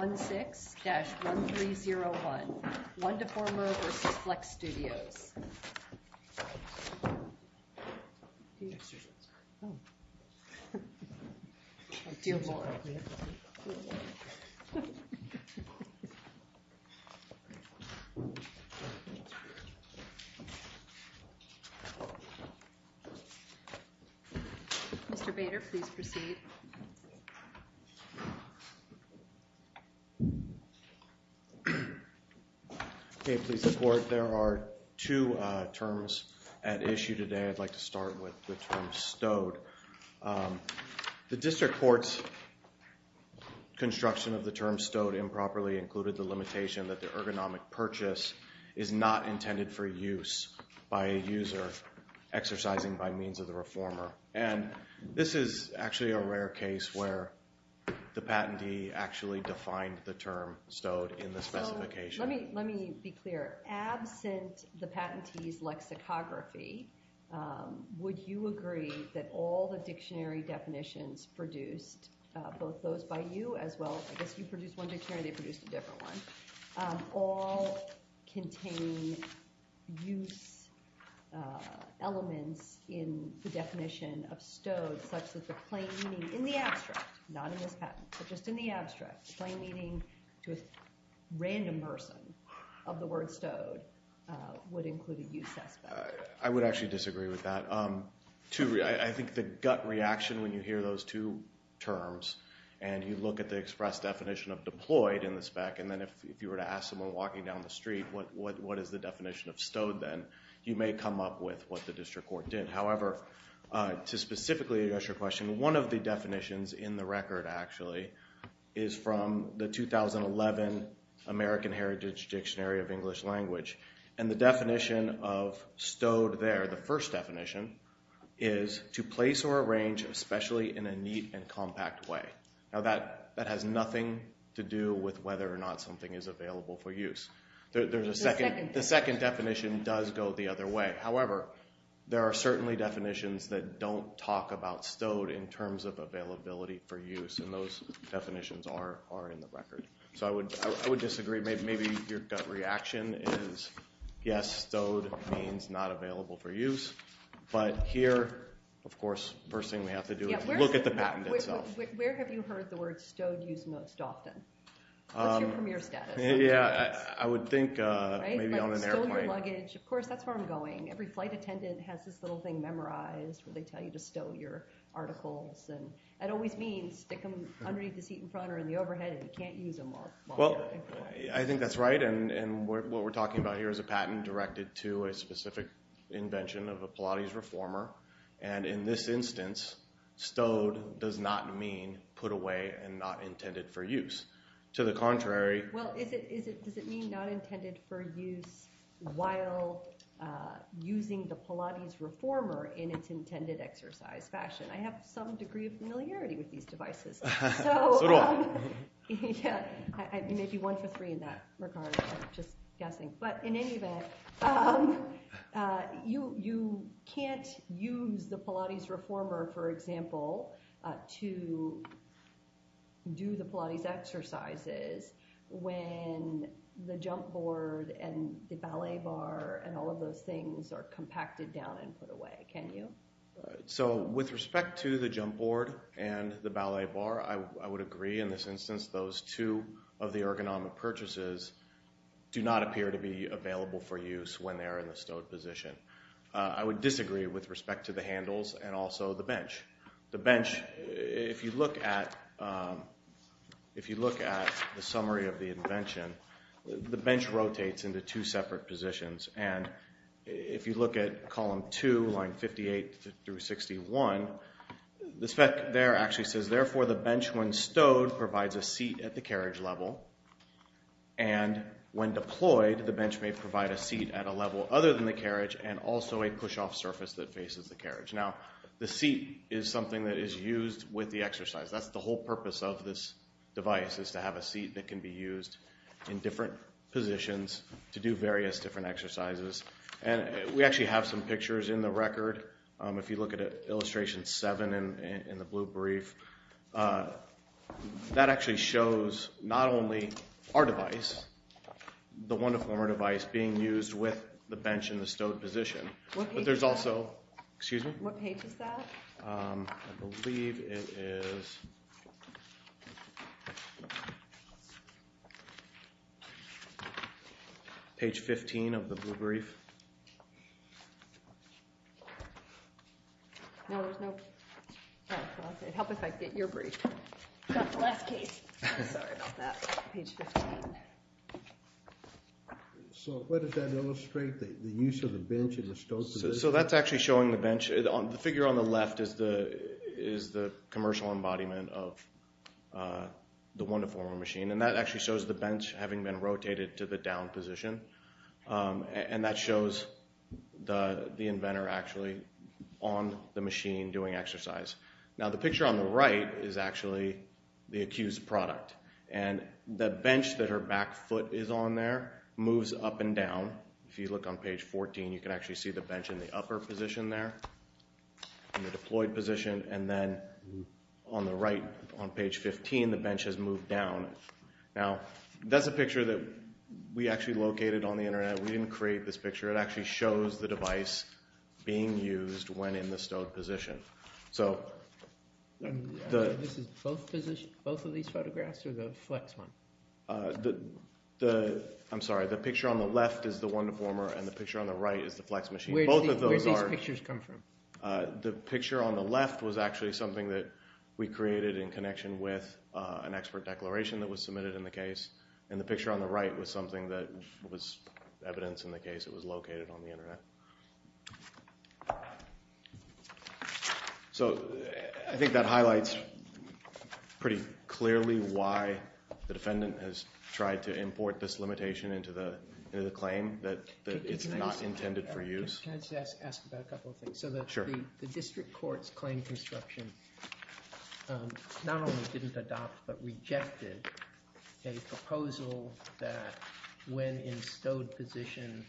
1-6-1301 WundaFormer v. Flex Studios. Mr. Bader, please proceed. Okay, please support. There are two terms at issue today. I'd like to start with the term stowed. The district court's construction of the term stowed improperly included the limitation that the ergonomic purchase is not intended for use by a user exercising by means of the reformer. And this is actually a rare case where the patentee actually defined the term stowed in the specification. Let me be clear. Absent the patentee's lexicography, would you agree that all the dictionary definitions produced, both those by you as well, I guess you produced one dictionary, they produced a different one, all contain use elements in the definition of stowed such that the plain meaning, in the abstract, not in this patent, but just in the abstract, plain meaning to a random person of the word stowed would include a use aspect? I would actually disagree with that. I think the gut reaction when you hear those two terms and you look at the express definition of deployed in the spec and then if you were to ask someone walking down the street what is the definition of stowed then, you may come up with what the district court did. However, to specifically address your question, one of the definitions in the record actually is from the 2011 American Heritage Dictionary of English Language. And the definition of stowed there, the first definition, is to place or arrange especially in a neat and compact way. Now that has nothing to do with whether or not something is available for use. The second definition does go the other way. However, there are certainly definitions that don't talk about stowed in terms of availability for use and those definitions are in the record. So I would disagree. Maybe your gut reaction is yes, stowed means not available for use. But here, of course, the first thing we have to do is look at the patent itself. Where have you heard the word stowed used most often? What's your premier status? Yeah, I would think maybe on an airplane. Stowed your luggage. Of course, that's where I'm going. Every flight attendant has this little thing memorized where they tell you to stow your articles. And that always means stick them underneath the seat in front or in the overhead and you can't use them while you're in flight. I think that's right. And what we're talking about here is a patent directed to a specific invention of a Pilates reformer. And in this instance, stowed does not mean put away and not intended for use. To the contrary. Well, does it mean not intended for use while using the Pilates reformer in its intended exercise fashion? I have some degree of familiarity with these devices. Maybe one for three in that regard, I'm just guessing. But in any event, you can't use the Pilates reformer, for example, to do the Pilates exercises when the jump board and the ballet bar and all of those things are compacted down and put away, can you? So with respect to the jump board and the ballet bar, I would agree in this instance those two of the ergonomic purchases do not appear to be available for use when they're in the stowed position. I would disagree with respect to the handles and also the bench. The bench, if you look at the summary of the invention, the bench rotates into two separate positions. And if you look at column two, line 58 through 61, the spec there actually says, therefore, the bench when stowed provides a seat at the carriage level. And when deployed, the bench may provide a seat at a level other than the carriage and also a push-off surface that faces the carriage. Now, the seat is something that is used with the exercise. That's the whole purpose of this device is to have a seat that can be used in different positions to do various different exercises. And we actually have some pictures in the record. If you look at illustration seven in the blue brief, that actually shows not only our device, the Wonderformer device, being used with the bench in the stowed position. But there's also, excuse me? What page is that? I believe it is page 15 of the blue brief. No, there's no. It would help if I could get your brief. Not the last case. I'm sorry about that. Page 15. So what does that illustrate, the use of the bench in the stowed position? So that's actually showing the bench. The figure on the left is the commercial embodiment of the Wonderformer machine. And that actually shows the bench having been rotated to the down position. And that shows the inventor actually on the machine doing exercise. Now, the picture on the right is actually the accused product. And the bench that her back foot is on there moves up and down. If you look on page 14, you can actually see the bench in the upper position there, in the deployed position. And then on the right, on page 15, the bench has moved down. Now, that's a picture that we actually located on the Internet. We didn't create this picture. It actually shows the device being used when in the stowed position. This is both of these photographs or the flex one? I'm sorry. The picture on the left is the Wonderformer and the picture on the right is the flex machine. Where did these pictures come from? The picture on the left was actually something that we created in connection with an expert declaration that was submitted in the case. And the picture on the right was something that was evidence in the case. It was located on the Internet. So I think that highlights pretty clearly why the defendant has tried to import this limitation into the claim that it's not intended for use. Can I just ask about a couple of things? So the district court's claim construction not only didn't adopt, but rejected a proposal that when in stowed position,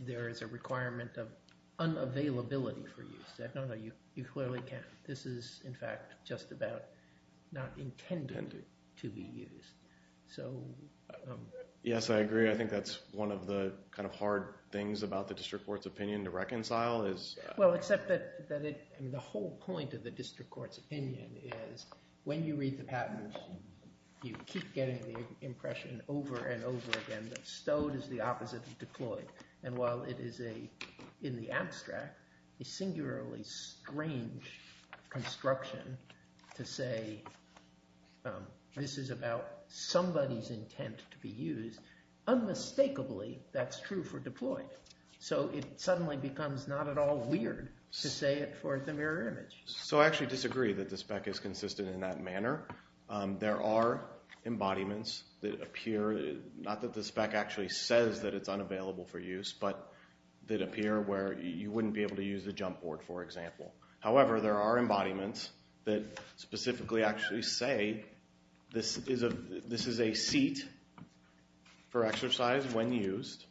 there is a requirement of unavailability for use. No, no, you clearly can't. This is, in fact, just about not intended to be used. Yes, I agree. I think that's one of the kind of hard things about the district court's opinion to reconcile. Well, except that the whole point of the district court's opinion is when you read the patent, you keep getting the impression over and over again that stowed is the opposite of deployed. And while it is, in the abstract, a singularly strange construction to say this is about somebody's intent to be used, unmistakably that's true for deployed. So it suddenly becomes not at all weird to say it for the mirror image. So I actually disagree that the spec is consistent in that manner. There are embodiments that appear, not that the spec actually says that it's unavailable for use, but that appear where you wouldn't be able to use the jump board, for example. However, there are embodiments that specifically actually say this is a seat for exercise when used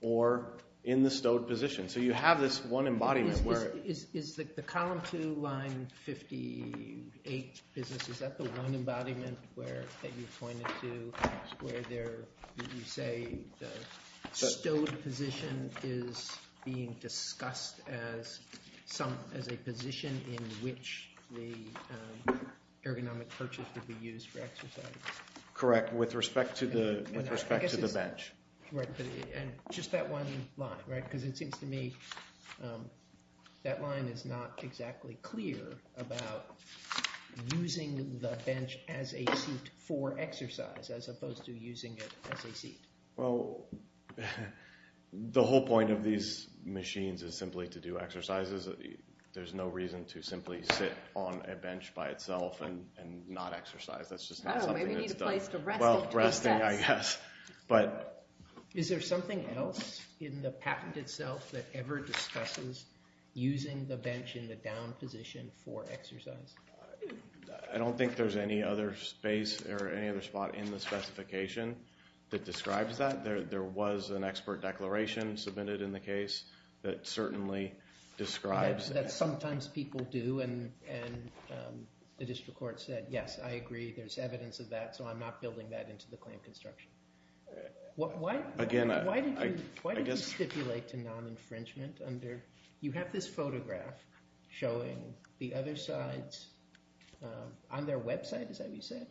or in the stowed position. So you have this one embodiment where- Is the column two, line 58 business, is that the one embodiment that you pointed to where you say the stowed position is being discussed as a position in which the ergonomic purchase would be used for exercise? Correct, with respect to the bench. And just that one line, right? Because it seems to me that line is not exactly clear about using the bench as a seat for exercise as opposed to using it as a seat. Well, the whole point of these machines is simply to do exercises. There's no reason to simply sit on a bench by itself and not exercise. That's just not something that's done. Well, resting, I guess. Is there something else in the patent itself that ever discusses using the bench in the down position for exercise? I don't think there's any other space or any other spot in the specification that describes that. There was an expert declaration submitted in the case that certainly describes that. That sometimes people do, and the district court said, yes, I agree. There's evidence of that, so I'm not building that into the claim construction. Again, I guess- Why did you stipulate to non-infringement under- you have this photograph showing the other sides on their website, is that what you said?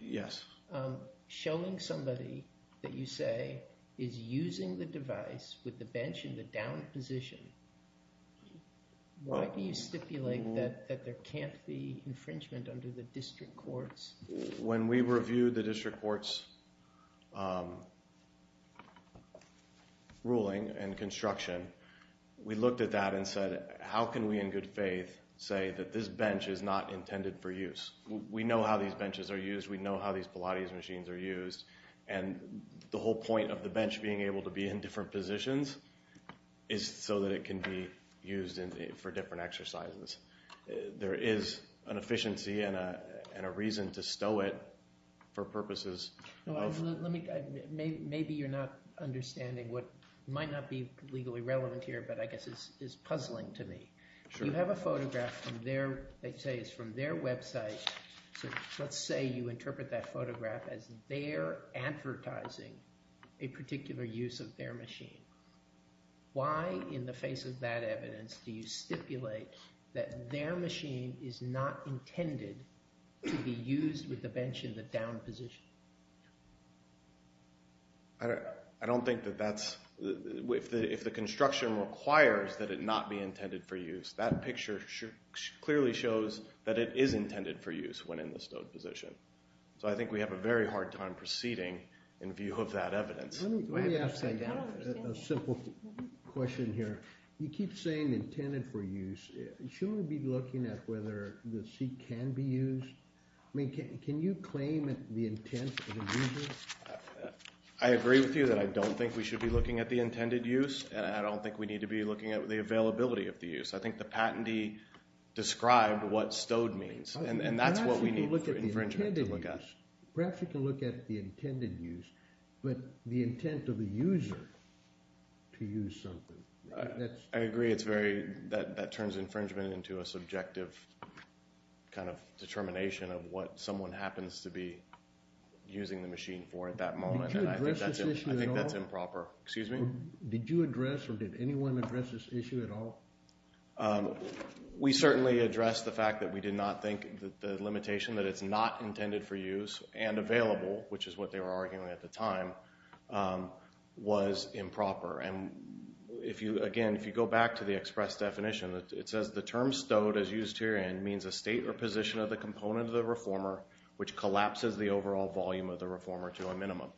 Yes. Showing somebody that you say is using the device with the bench in the down position, why do you stipulate that there can't be infringement under the district courts? When we reviewed the district court's ruling and construction, we looked at that and said, how can we in good faith say that this bench is not intended for use? We know how these benches are used, we know how these Pilates machines are used, and the whole point of the bench being able to be in different positions is so that it can be used for different exercises. There is an efficiency and a reason to stow it for purposes of- Maybe you're not understanding what might not be legally relevant here, but I guess is puzzling to me. You have a photograph from their website, so let's say you interpret that photograph as their advertising a particular use of their machine. Why, in the face of that evidence, do you stipulate that their machine is not intended to be used with the bench in the down position? I don't think that that's- if the construction requires that it not be intended for use, that picture clearly shows that it is intended for use when in the stowed position. So I think we have a very hard time proceeding in view of that evidence. Let me ask a simple question here. You keep saying intended for use. Shouldn't we be looking at whether the seat can be used? I mean, can you claim the intent of the use? I agree with you that I don't think we should be looking at the intended use, and I don't think we need to be looking at the availability of the use. I think the patentee described what stowed means, and that's what we need for infringement to look at. Perhaps we can look at the intended use, but the intent of the user to use something. I agree it's very- that turns infringement into a subjective kind of determination of what someone happens to be using the machine for at that moment. Did you address this issue at all? I think that's improper. Excuse me? Did you address or did anyone address this issue at all? We certainly addressed the fact that we did not think that the limitation that it's not intended for use and available, which is what they were arguing at the time, was improper. And if you- again, if you go back to the express definition, it says the term stowed, as used here, means a state or position of the component of the reformer which collapses the overall volume of the reformer to a minimum.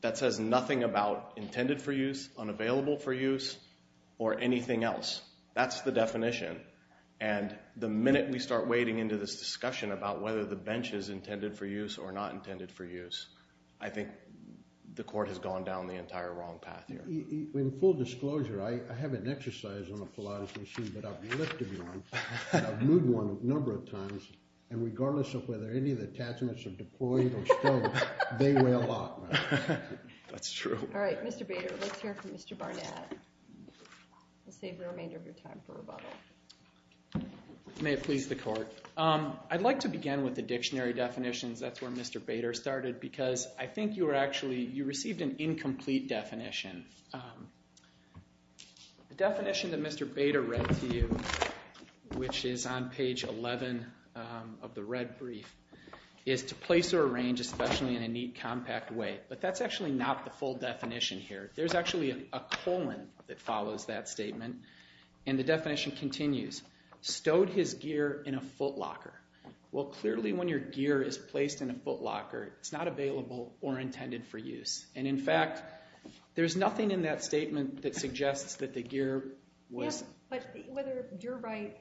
That says nothing about intended for use, unavailable for use, or anything else. That's the definition. And the minute we start wading into this discussion about whether the bench is intended for use or not intended for use, I think the court has gone down the entire wrong path here. In full disclosure, I have an exercise on a Pilates machine, but I've lifted one. I've moved one a number of times. And regardless of whether any of the attachments are deployed or stowed, they weigh a lot. That's true. All right, Mr. Bader, let's hear from Mr. Barnett. We'll save the remainder of your time for rebuttal. May it please the court. I'd like to begin with the dictionary definitions. That's where Mr. Bader started because I think you were actually- you received an incomplete definition. The definition that Mr. Bader read to you, which is on page 11 of the red brief, is to place or arrange especially in a neat, compact way. But that's actually not the full definition here. There's actually a colon that follows that statement, and the definition continues. Stowed his gear in a footlocker. Well, clearly when your gear is placed in a footlocker, it's not available or intended for use. And in fact, there's nothing in that statement that suggests that the gear was- Yes, but whether you're right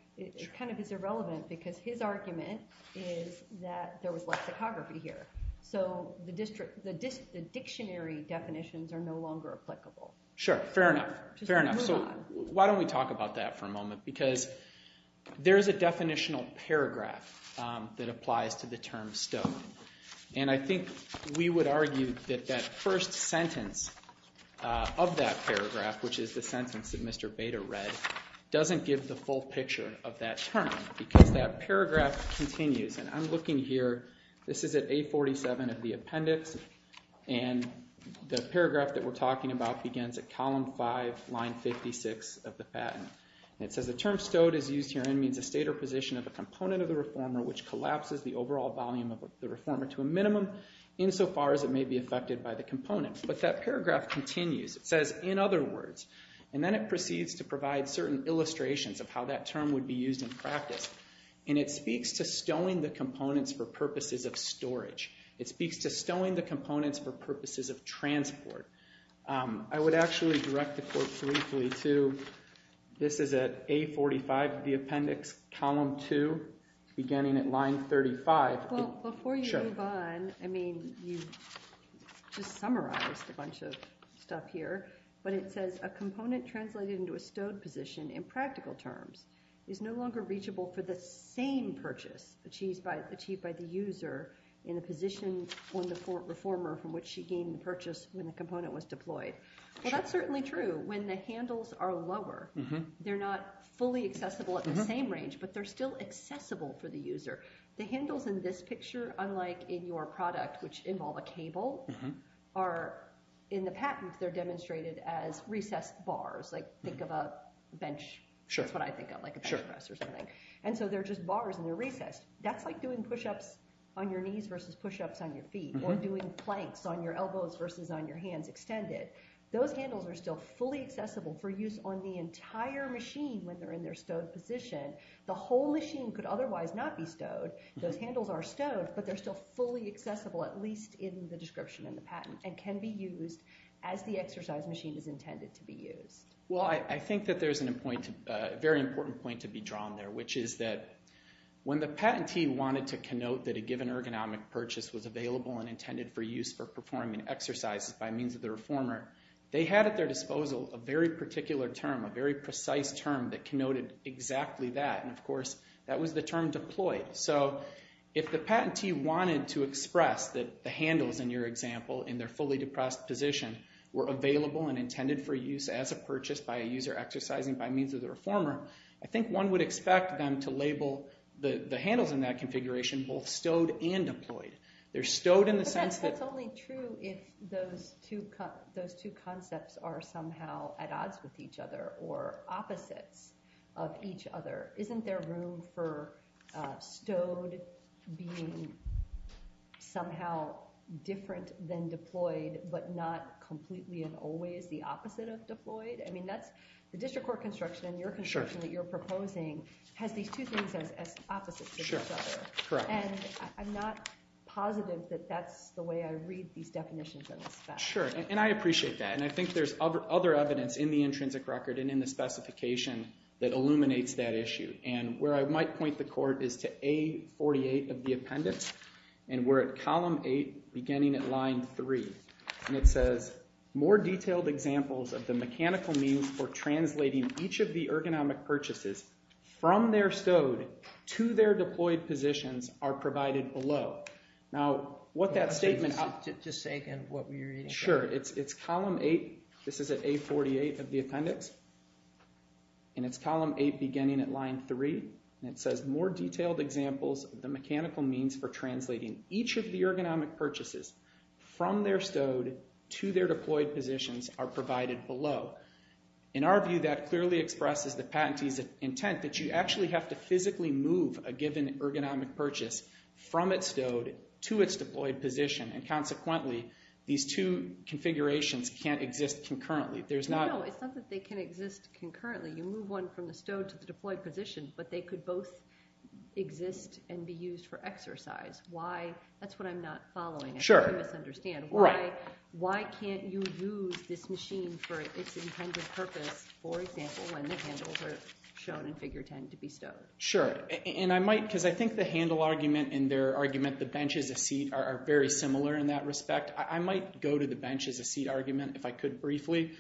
kind of is irrelevant because his argument is that there was lexicography here. So the dictionary definitions are no longer applicable. Sure, fair enough. Fair enough. So why don't we talk about that for a moment? Because there's a definitional paragraph that applies to the term stowed. And I think we would argue that that first sentence of that paragraph, which is the sentence that Mr. Bader read, doesn't give the full picture of that term because that paragraph continues. And I'm looking here. This is at A47 of the appendix, and the paragraph that we're talking about begins at column 5, line 56 of the patent. And it says, the term stowed as used herein means a state or position of a component of the reformer which collapses the overall volume of the reformer to a minimum, insofar as it may be affected by the component. But that paragraph continues. It says, in other words, and then it proceeds to provide certain illustrations of how that term would be used in practice. And it speaks to stowing the components for purposes of storage. It speaks to stowing the components for purposes of transport. I would actually direct the court briefly to, this is at A45 of the appendix, column 2, beginning at line 35. Well, before you move on, I mean, you just summarized a bunch of stuff here. But it says, a component translated into a stowed position in practical terms is no longer reachable for the same purchase achieved by the user in a position on the reformer from which she gained the purchase when the component was deployed. Well, that's certainly true. When the handles are lower, they're not fully accessible at the same range, but they're still accessible for the user. The handles in this picture, unlike in your product, which involve a cable, are, in the patent, they're demonstrated as recessed bars. Like, think of a bench. That's what I think of, like a bench press or something. And so they're just bars, and they're recessed. That's like doing pushups on your knees versus pushups on your feet, or doing planks on your elbows versus on your hands extended. Those handles are still fully accessible for use on the entire machine when they're in their stowed position. The whole machine could otherwise not be stowed. Those handles are stowed, but they're still fully accessible, at least in the description in the patent, and can be used as the exercise machine is intended to be used. Well, I think that there's a very important point to be drawn there, which is that when the patentee wanted to connote that a given ergonomic purchase was available and intended for use for performing exercises by means of the reformer, they had at their disposal a very particular term, a very precise term that connoted exactly that. And, of course, that was the term deployed. So if the patentee wanted to express that the handles, in your example, in their fully depressed position, were available and intended for use as a purchase by a user exercising by means of the reformer, I think one would expect them to label the handles in that configuration both stowed and deployed. They're stowed in the sense that— But that's only true if those two concepts are somehow at odds with each other or opposites of each other. Isn't there room for stowed being somehow different than deployed but not completely and always the opposite of deployed? I mean, that's—the district court construction and your construction that you're proposing has these two things as opposites to each other. Sure. Correct. And I'm not positive that that's the way I read these definitions in the spec. Sure. And I appreciate that. And I think there's other evidence in the intrinsic record and in the specification that illuminates that issue. And where I might point the court is to A48 of the appendix, and we're at column 8 beginning at line 3. And it says, More detailed examples of the mechanical means for translating each of the ergonomic purchases from their stowed to their deployed positions are provided below. Now, what that statement— Just say again what you're reading. Sure. It's column 8. This is at A48 of the appendix. And it's column 8 beginning at line 3. And it says, More detailed examples of the mechanical means for translating each of the ergonomic purchases from their stowed to their deployed positions are provided below. In our view, that clearly expresses the patentee's intent that you actually have to physically move a given ergonomic purchase from its stowed to its deployed position. And consequently, these two configurations can't exist concurrently. No, it's not that they can exist concurrently. You move one from the stowed to the deployed position, but they could both exist and be used for exercise. That's what I'm not following. Sure. I misunderstand. Why can't you use this machine for its intended purpose, for example, when the handles are shown in figure 10 to be stowed? Sure. And I might, because I think the handle argument and their argument, the bench as a seat, are very similar in that respect. I might go to the bench as a seat argument, if I could briefly,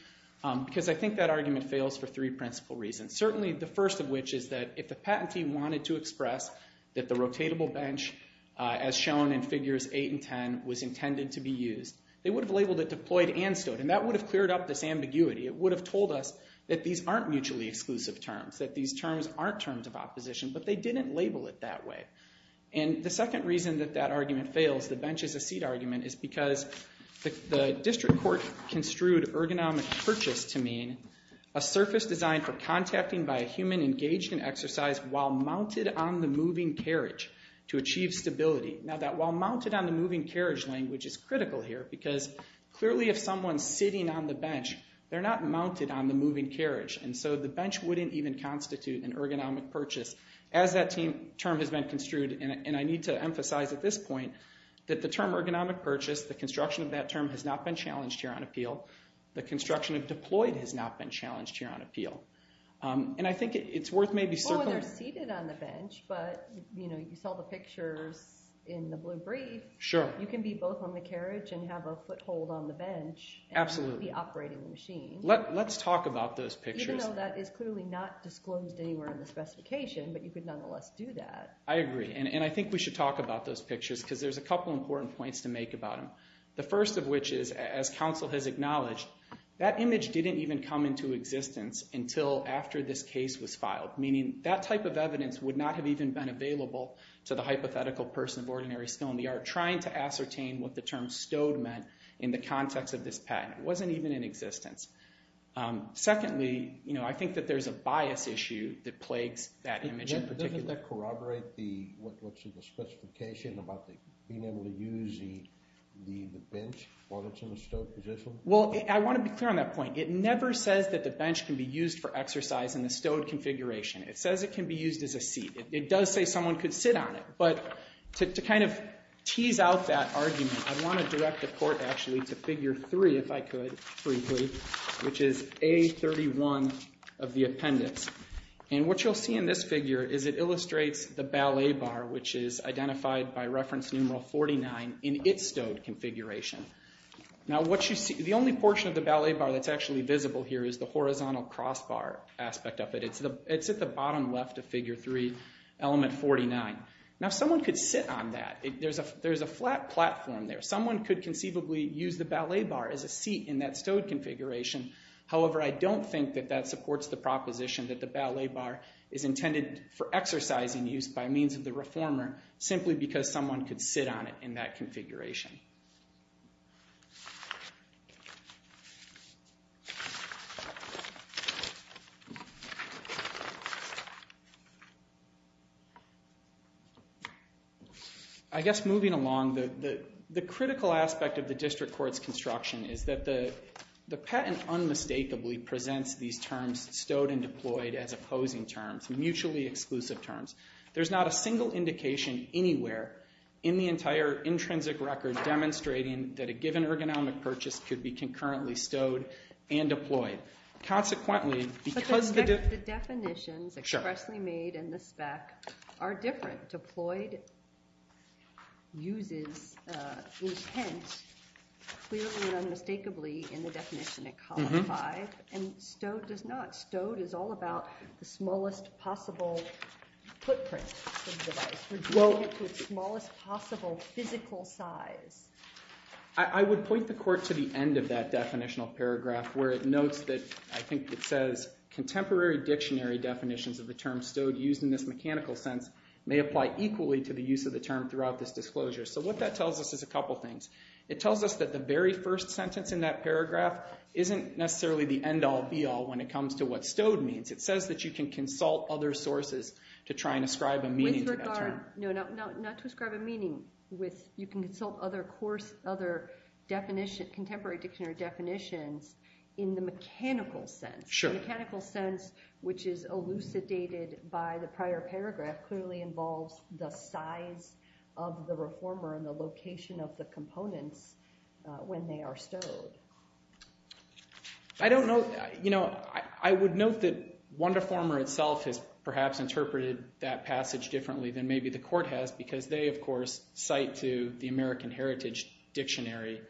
because I think that argument fails for three principal reasons. Certainly the first of which is that if the patentee wanted to express that the rotatable bench, as shown in figures 8 and 10, was intended to be used, they would have labeled it deployed and stowed. And that would have cleared up this ambiguity. It would have told us that these aren't mutually exclusive terms, that these terms aren't terms of opposition. But they didn't label it that way. And the second reason that that argument fails, the bench as a seat argument, is because the district court construed ergonomic purchase to mean a surface designed for contacting by a human engaged in exercise while mounted on the moving carriage to achieve stability. Now that while mounted on the moving carriage language is critical here, because clearly if someone's sitting on the bench, they're not mounted on the moving carriage. And so the bench wouldn't even constitute an ergonomic purchase as that term has been construed. And I need to emphasize at this point that the term ergonomic purchase, the construction of that term, has not been challenged here on appeal. The construction of deployed has not been challenged here on appeal. And I think it's worth maybe circling. Oh, they're seated on the bench, but you saw the pictures in the blue brief. Sure. You can be both on the carriage and have a foothold on the bench. Absolutely. And not be operating the machine. Let's talk about those pictures. Even though that is clearly not disclosed anywhere in the specification, but you could nonetheless do that. I agree. And I think we should talk about those pictures, because there's a couple important points to make about them. The first of which is, as counsel has acknowledged, that image didn't even come into existence until after this case was filed. Meaning that type of evidence would not have even been available to the hypothetical person of ordinary stone. We are trying to ascertain what the term stowed meant in the context of this patent. It wasn't even in existence. Secondly, I think that there's a bias issue that plagues that image in particular. Does that corroborate what's in the specification about being able to use the bench while it's in the stowed position? Well, I want to be clear on that point. It never says that the bench can be used for exercise in the stowed configuration. It says it can be used as a seat. It does say someone could sit on it. But to kind of tease out that argument, I want to direct the court, actually, to Figure 3, if I could, briefly, which is A31 of the appendix. And what you'll see in this figure is it illustrates the ballet bar, which is identified by reference numeral 49, in its stowed configuration. Now, the only portion of the ballet bar that's actually visible here is the horizontal crossbar aspect of it. It's at the bottom left of Figure 3, element 49. Now, someone could sit on that. There's a flat platform there. Someone could conceivably use the ballet bar as a seat in that stowed configuration. However, I don't think that that supports the proposition that the ballet bar is intended for exercise in use by means of the reformer, simply because someone could sit on it in that configuration. I guess moving along, the critical aspect of the district court's construction is that the patent unmistakably presents these terms stowed and deployed as opposing terms, mutually exclusive terms. There's not a single indication anywhere in the entire intrinsic record demonstrating that a given ergonomic purchase could be concurrently stowed and deployed. But the definitions expressly made in the spec are different. Deployed uses intent clearly and unmistakably in the definition in column 5, and stowed does not. Stowed is all about the smallest possible footprint of the device, reducing it to its smallest possible physical size. I would point the court to the end of that definitional paragraph where it notes that, I think it says, contemporary dictionary definitions of the term stowed used in this mechanical sense may apply equally to the use of the term throughout this disclosure. So what that tells us is a couple things. It tells us that the very first sentence in that paragraph isn't necessarily the end-all, be-all when it comes to what stowed means. It says that you can consult other sources to try and ascribe a meaning to that term. No, not to ascribe a meaning. You can consult other course, other definition, contemporary dictionary definitions in the mechanical sense. The mechanical sense, which is elucidated by the prior paragraph, clearly involves the size of the reformer and the location of the components when they are stowed. I would note that Wonderformer itself has perhaps interpreted that passage differently than maybe the court has because they, of course, cite to the American Heritage Dictionary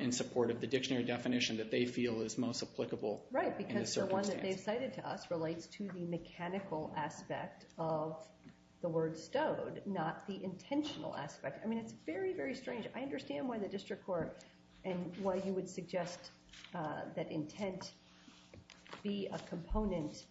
in support of the dictionary definition that they feel is most applicable in this circumstance. Right, because the one that they've cited to us relates to the mechanical aspect of the word stowed, not the intentional aspect. I mean, it's very, very strange. I understand why the district court and why you would suggest that intent be a component,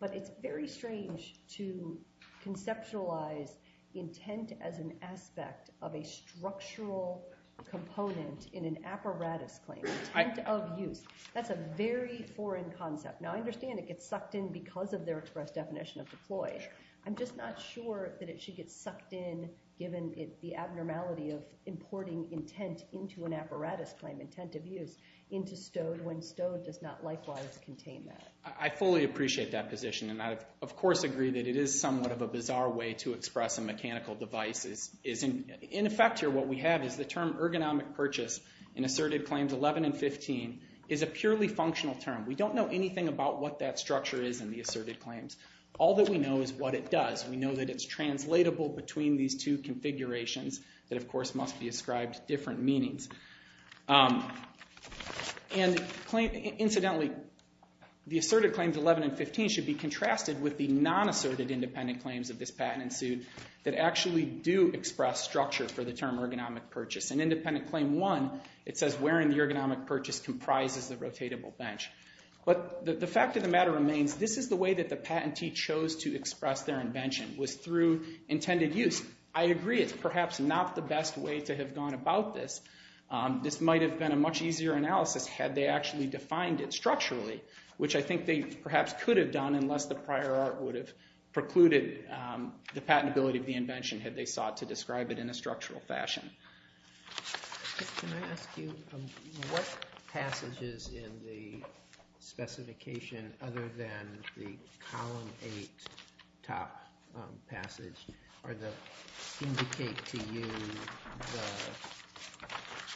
but it's very strange to conceptualize intent as an aspect of a structural component in an apparatus claim, intent of use. That's a very foreign concept. Now, I understand it gets sucked in because of their express definition of deployed. I'm just not sure that it should get sucked in given the abnormality of importing intent into an apparatus claim, intent of use, into stowed when stowed does not likewise contain that. I fully appreciate that position, and I, of course, agree that it is somewhat of a bizarre way to express a mechanical device. In effect here, what we have is the term ergonomic purchase in asserted claims 11 and 15 is a purely functional term. We don't know anything about what that structure is in the asserted claims. All that we know is what it does. We know that it's translatable between these two configurations that, of course, must be ascribed different meanings. And incidentally, the asserted claims 11 and 15 should be contrasted with the non-asserted independent claims of this patent suit that actually do express structure for the term ergonomic purchase. In independent claim one, it says wearing the ergonomic purchase comprises the rotatable bench. But the fact of the matter remains this is the way that the patentee chose to express their invention was through intended use. I agree it's perhaps not the best way to have gone about this. This might have been a much easier analysis had they actually defined it structurally, which I think they perhaps could have done unless the prior art would have precluded the patentability of the invention had they sought to describe it in a structural fashion. Can I ask you what passages in the specification other than the column 8 top passage are the indicate to you the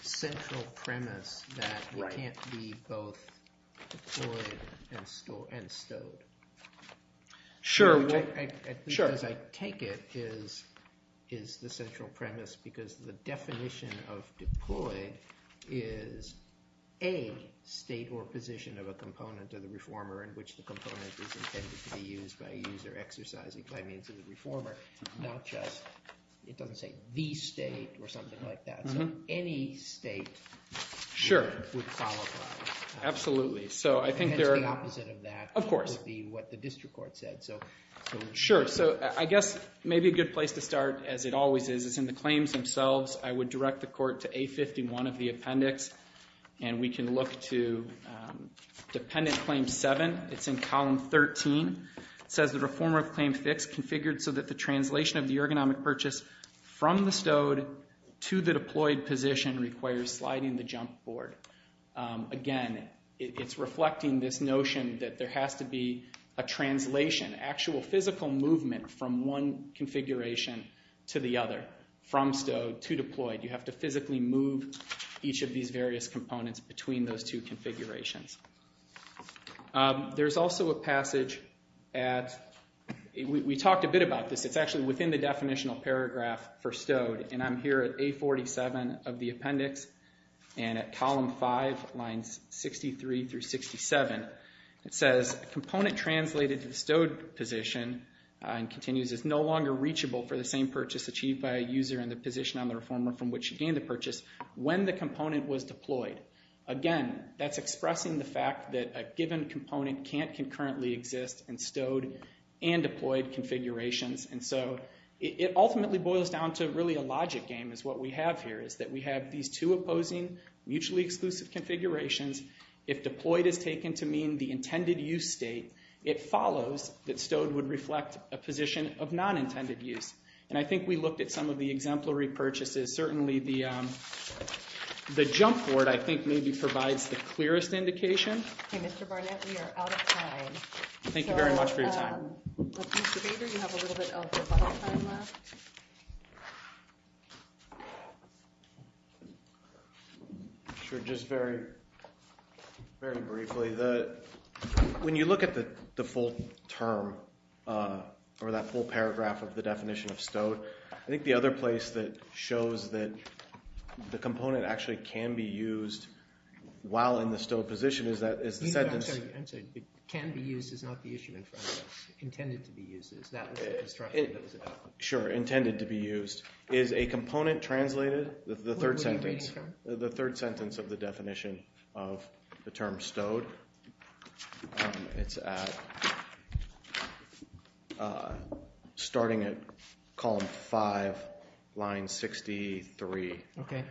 central premise that you can't be both employed and stowed? Sure. Because I take it is the central premise because the definition of deployed is a state or position of a component of the reformer in which the component is intended to be used by a user exercising by means of the reformer, not just, it doesn't say the state or something like that. So any state would qualify. Absolutely. The opposite of that would be what the district court said. Sure. So I guess maybe a good place to start, as it always is, is in the claims themselves. I would direct the court to A51 of the appendix, and we can look to dependent claim 7. It's in column 13. It says the reformer of claim 6 configured so that the translation of the ergonomic purchase from the stowed to the deployed position requires sliding the jump board. Again, it's reflecting this notion that there has to be a translation, actual physical movement from one configuration to the other, from stowed to deployed. You have to physically move each of these various components between those two configurations. There's also a passage at, we talked a bit about this. It's actually within the definitional paragraph for stowed, and I'm here at A47 of the appendix, and at column 5, lines 63 through 67. It says a component translated to the stowed position, and continues, is no longer reachable for the same purchase achieved by a user in the position on the reformer from which he gained the purchase when the component was deployed. Again, that's expressing the fact that a given component can't concurrently exist in stowed and deployed configurations. It ultimately boils down to really a logic game is what we have here, is that we have these two opposing mutually exclusive configurations. If deployed is taken to mean the intended use state, it follows that stowed would reflect a position of non-intended use. I think we looked at some of the exemplary purchases. Certainly, the jump board, I think, maybe provides the clearest indication. Okay, Mr. Barnett, we are out of time. Thank you very much for your time. Mr. Bader, you have a little bit of rebuttal time left. Sure, just very briefly. When you look at the full term, or that full paragraph of the definition of stowed, I think the other place that shows that the component actually can be used while in the stowed position is the sentence. I'm sorry. Can be used is not the issue in front of us. Intended to be used is. That was the construction that was adopted. Sure, intended to be used. Where were we reading from? The third sentence of the definition of the term stowed. It's at starting at column 5, line 63. Okay. It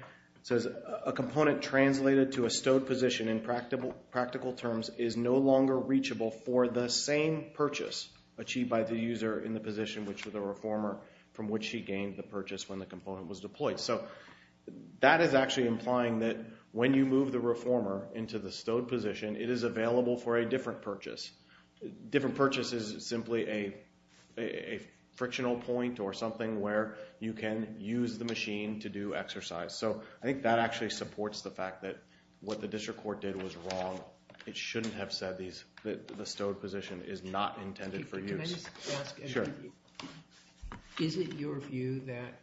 says, a component translated to a stowed position in practical terms is no longer reachable for the same purchase achieved by the user in the position with the reformer from which he gained the purchase when the component was deployed. So that is actually implying that when you move the reformer into the stowed position, it is available for a different purchase. Different purchase is simply a frictional point or something where you can use the machine to do exercise. So I think that actually supports the fact that what the district court did was wrong. It shouldn't have said that the stowed position is not intended for use. Can I just ask? Sure. Is it your view that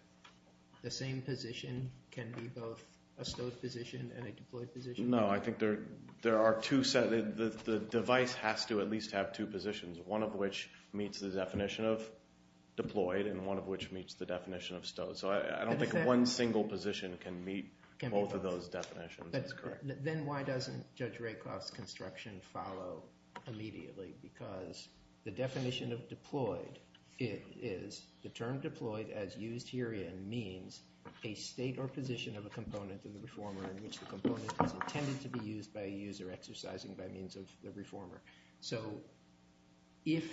the same position can be both a stowed position and a deployed position? No, I think there are two sets. The device has to at least have two positions, one of which meets the definition of deployed and one of which meets the definition of stowed. So I don't think one single position can meet both of those definitions. That's correct. Then why doesn't Judge Rakoff's construction follow immediately? Because the definition of deployed is the term deployed as used herein means a state or position of a component of the reformer in which the component is intended to be used by a user exercising by means of the reformer. So if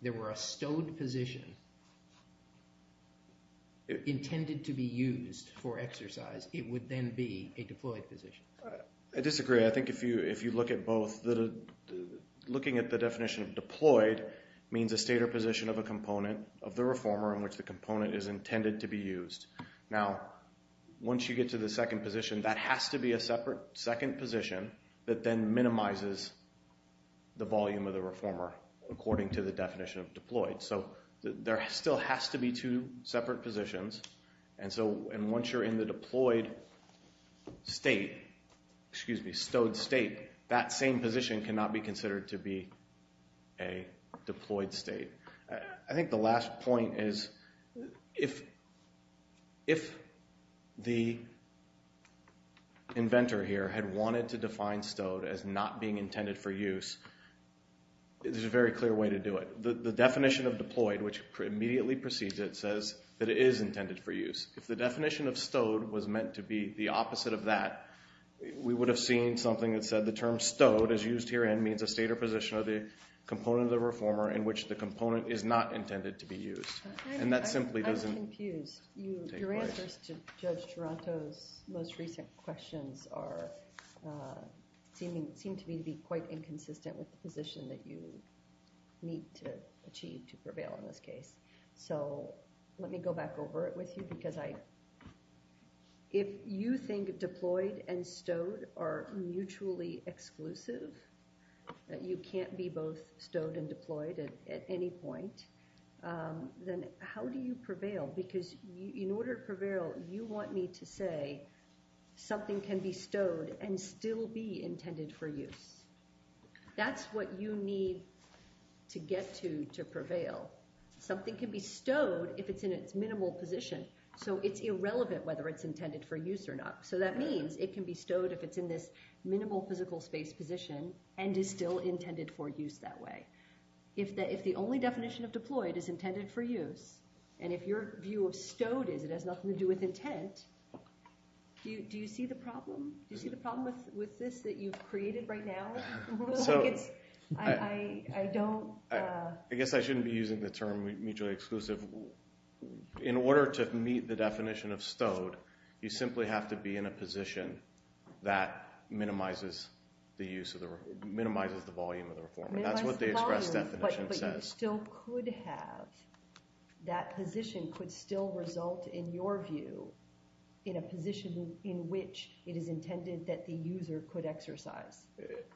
there were a stowed position intended to be used for exercise, it would then be a deployed position. I disagree. I think if you look at both, looking at the definition of deployed means a state or position of a component of the reformer in which the component is intended to be used. Now, once you get to the second position, that has to be a separate second position that then minimizes the volume of the reformer according to the definition of deployed. So there still has to be two separate positions. And once you're in the deployed state, excuse me, stowed state, that same position cannot be considered to be a deployed state. I think the last point is if the inventor here had wanted to define stowed as not being intended for use, there's a very clear way to do it. The definition of deployed, which immediately precedes it, says that it is intended for use. If the definition of stowed was meant to be the opposite of that, we would have seen something that said the term stowed as used herein means a state or position of the component of the reformer in which the component is not intended to be used. And that simply doesn't take part. I'm confused. Your answers to Judge Taranto's most recent questions seem to me to be quite inconsistent with the position that you need to achieve to prevail in this case. So let me go back over it with you because if you think deployed and stowed are mutually exclusive, that you can't be both stowed and deployed at any point, then how do you prevail? Because in order to prevail, you want me to say something can be stowed and still be intended for use. That's what you need to get to to prevail. Something can be stowed if it's in its minimal position. So it's irrelevant whether it's intended for use or not. So that means it can be stowed if it's in this minimal physical space position and is still intended for use that way. If the only definition of deployed is intended for use, and if your view of stowed is it has nothing to do with intent, do you see the problem with this that you've created right now? I guess I shouldn't be using the term mutually exclusive. In order to meet the definition of stowed, you simply have to be in a position that minimizes the volume of the reformer. That's what the express definition says. But you still could have – that position could still result, in your view, in a position in which it is intended that the user could exercise.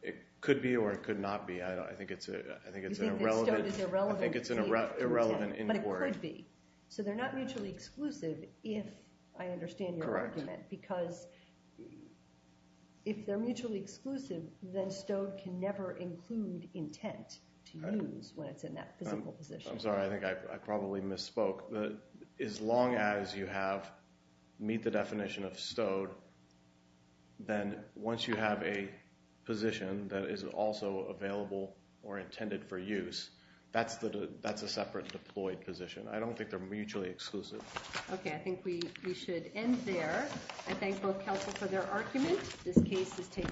It could be or it could not be. I think it's irrelevant. You think that stowed is irrelevant to intent. I think it's an irrelevant import. But it could be. So they're not mutually exclusive if – I understand your argument. Correct. Because if they're mutually exclusive, then stowed can never include intent to use when it's in that physical position. I'm sorry. I think I probably misspoke. As long as you have – meet the definition of stowed, then once you have a position that is also available or intended for use, that's a separate deployed position. I don't think they're mutually exclusive. Okay. I think we should end there. I thank both counsel for their argument. This case is taken.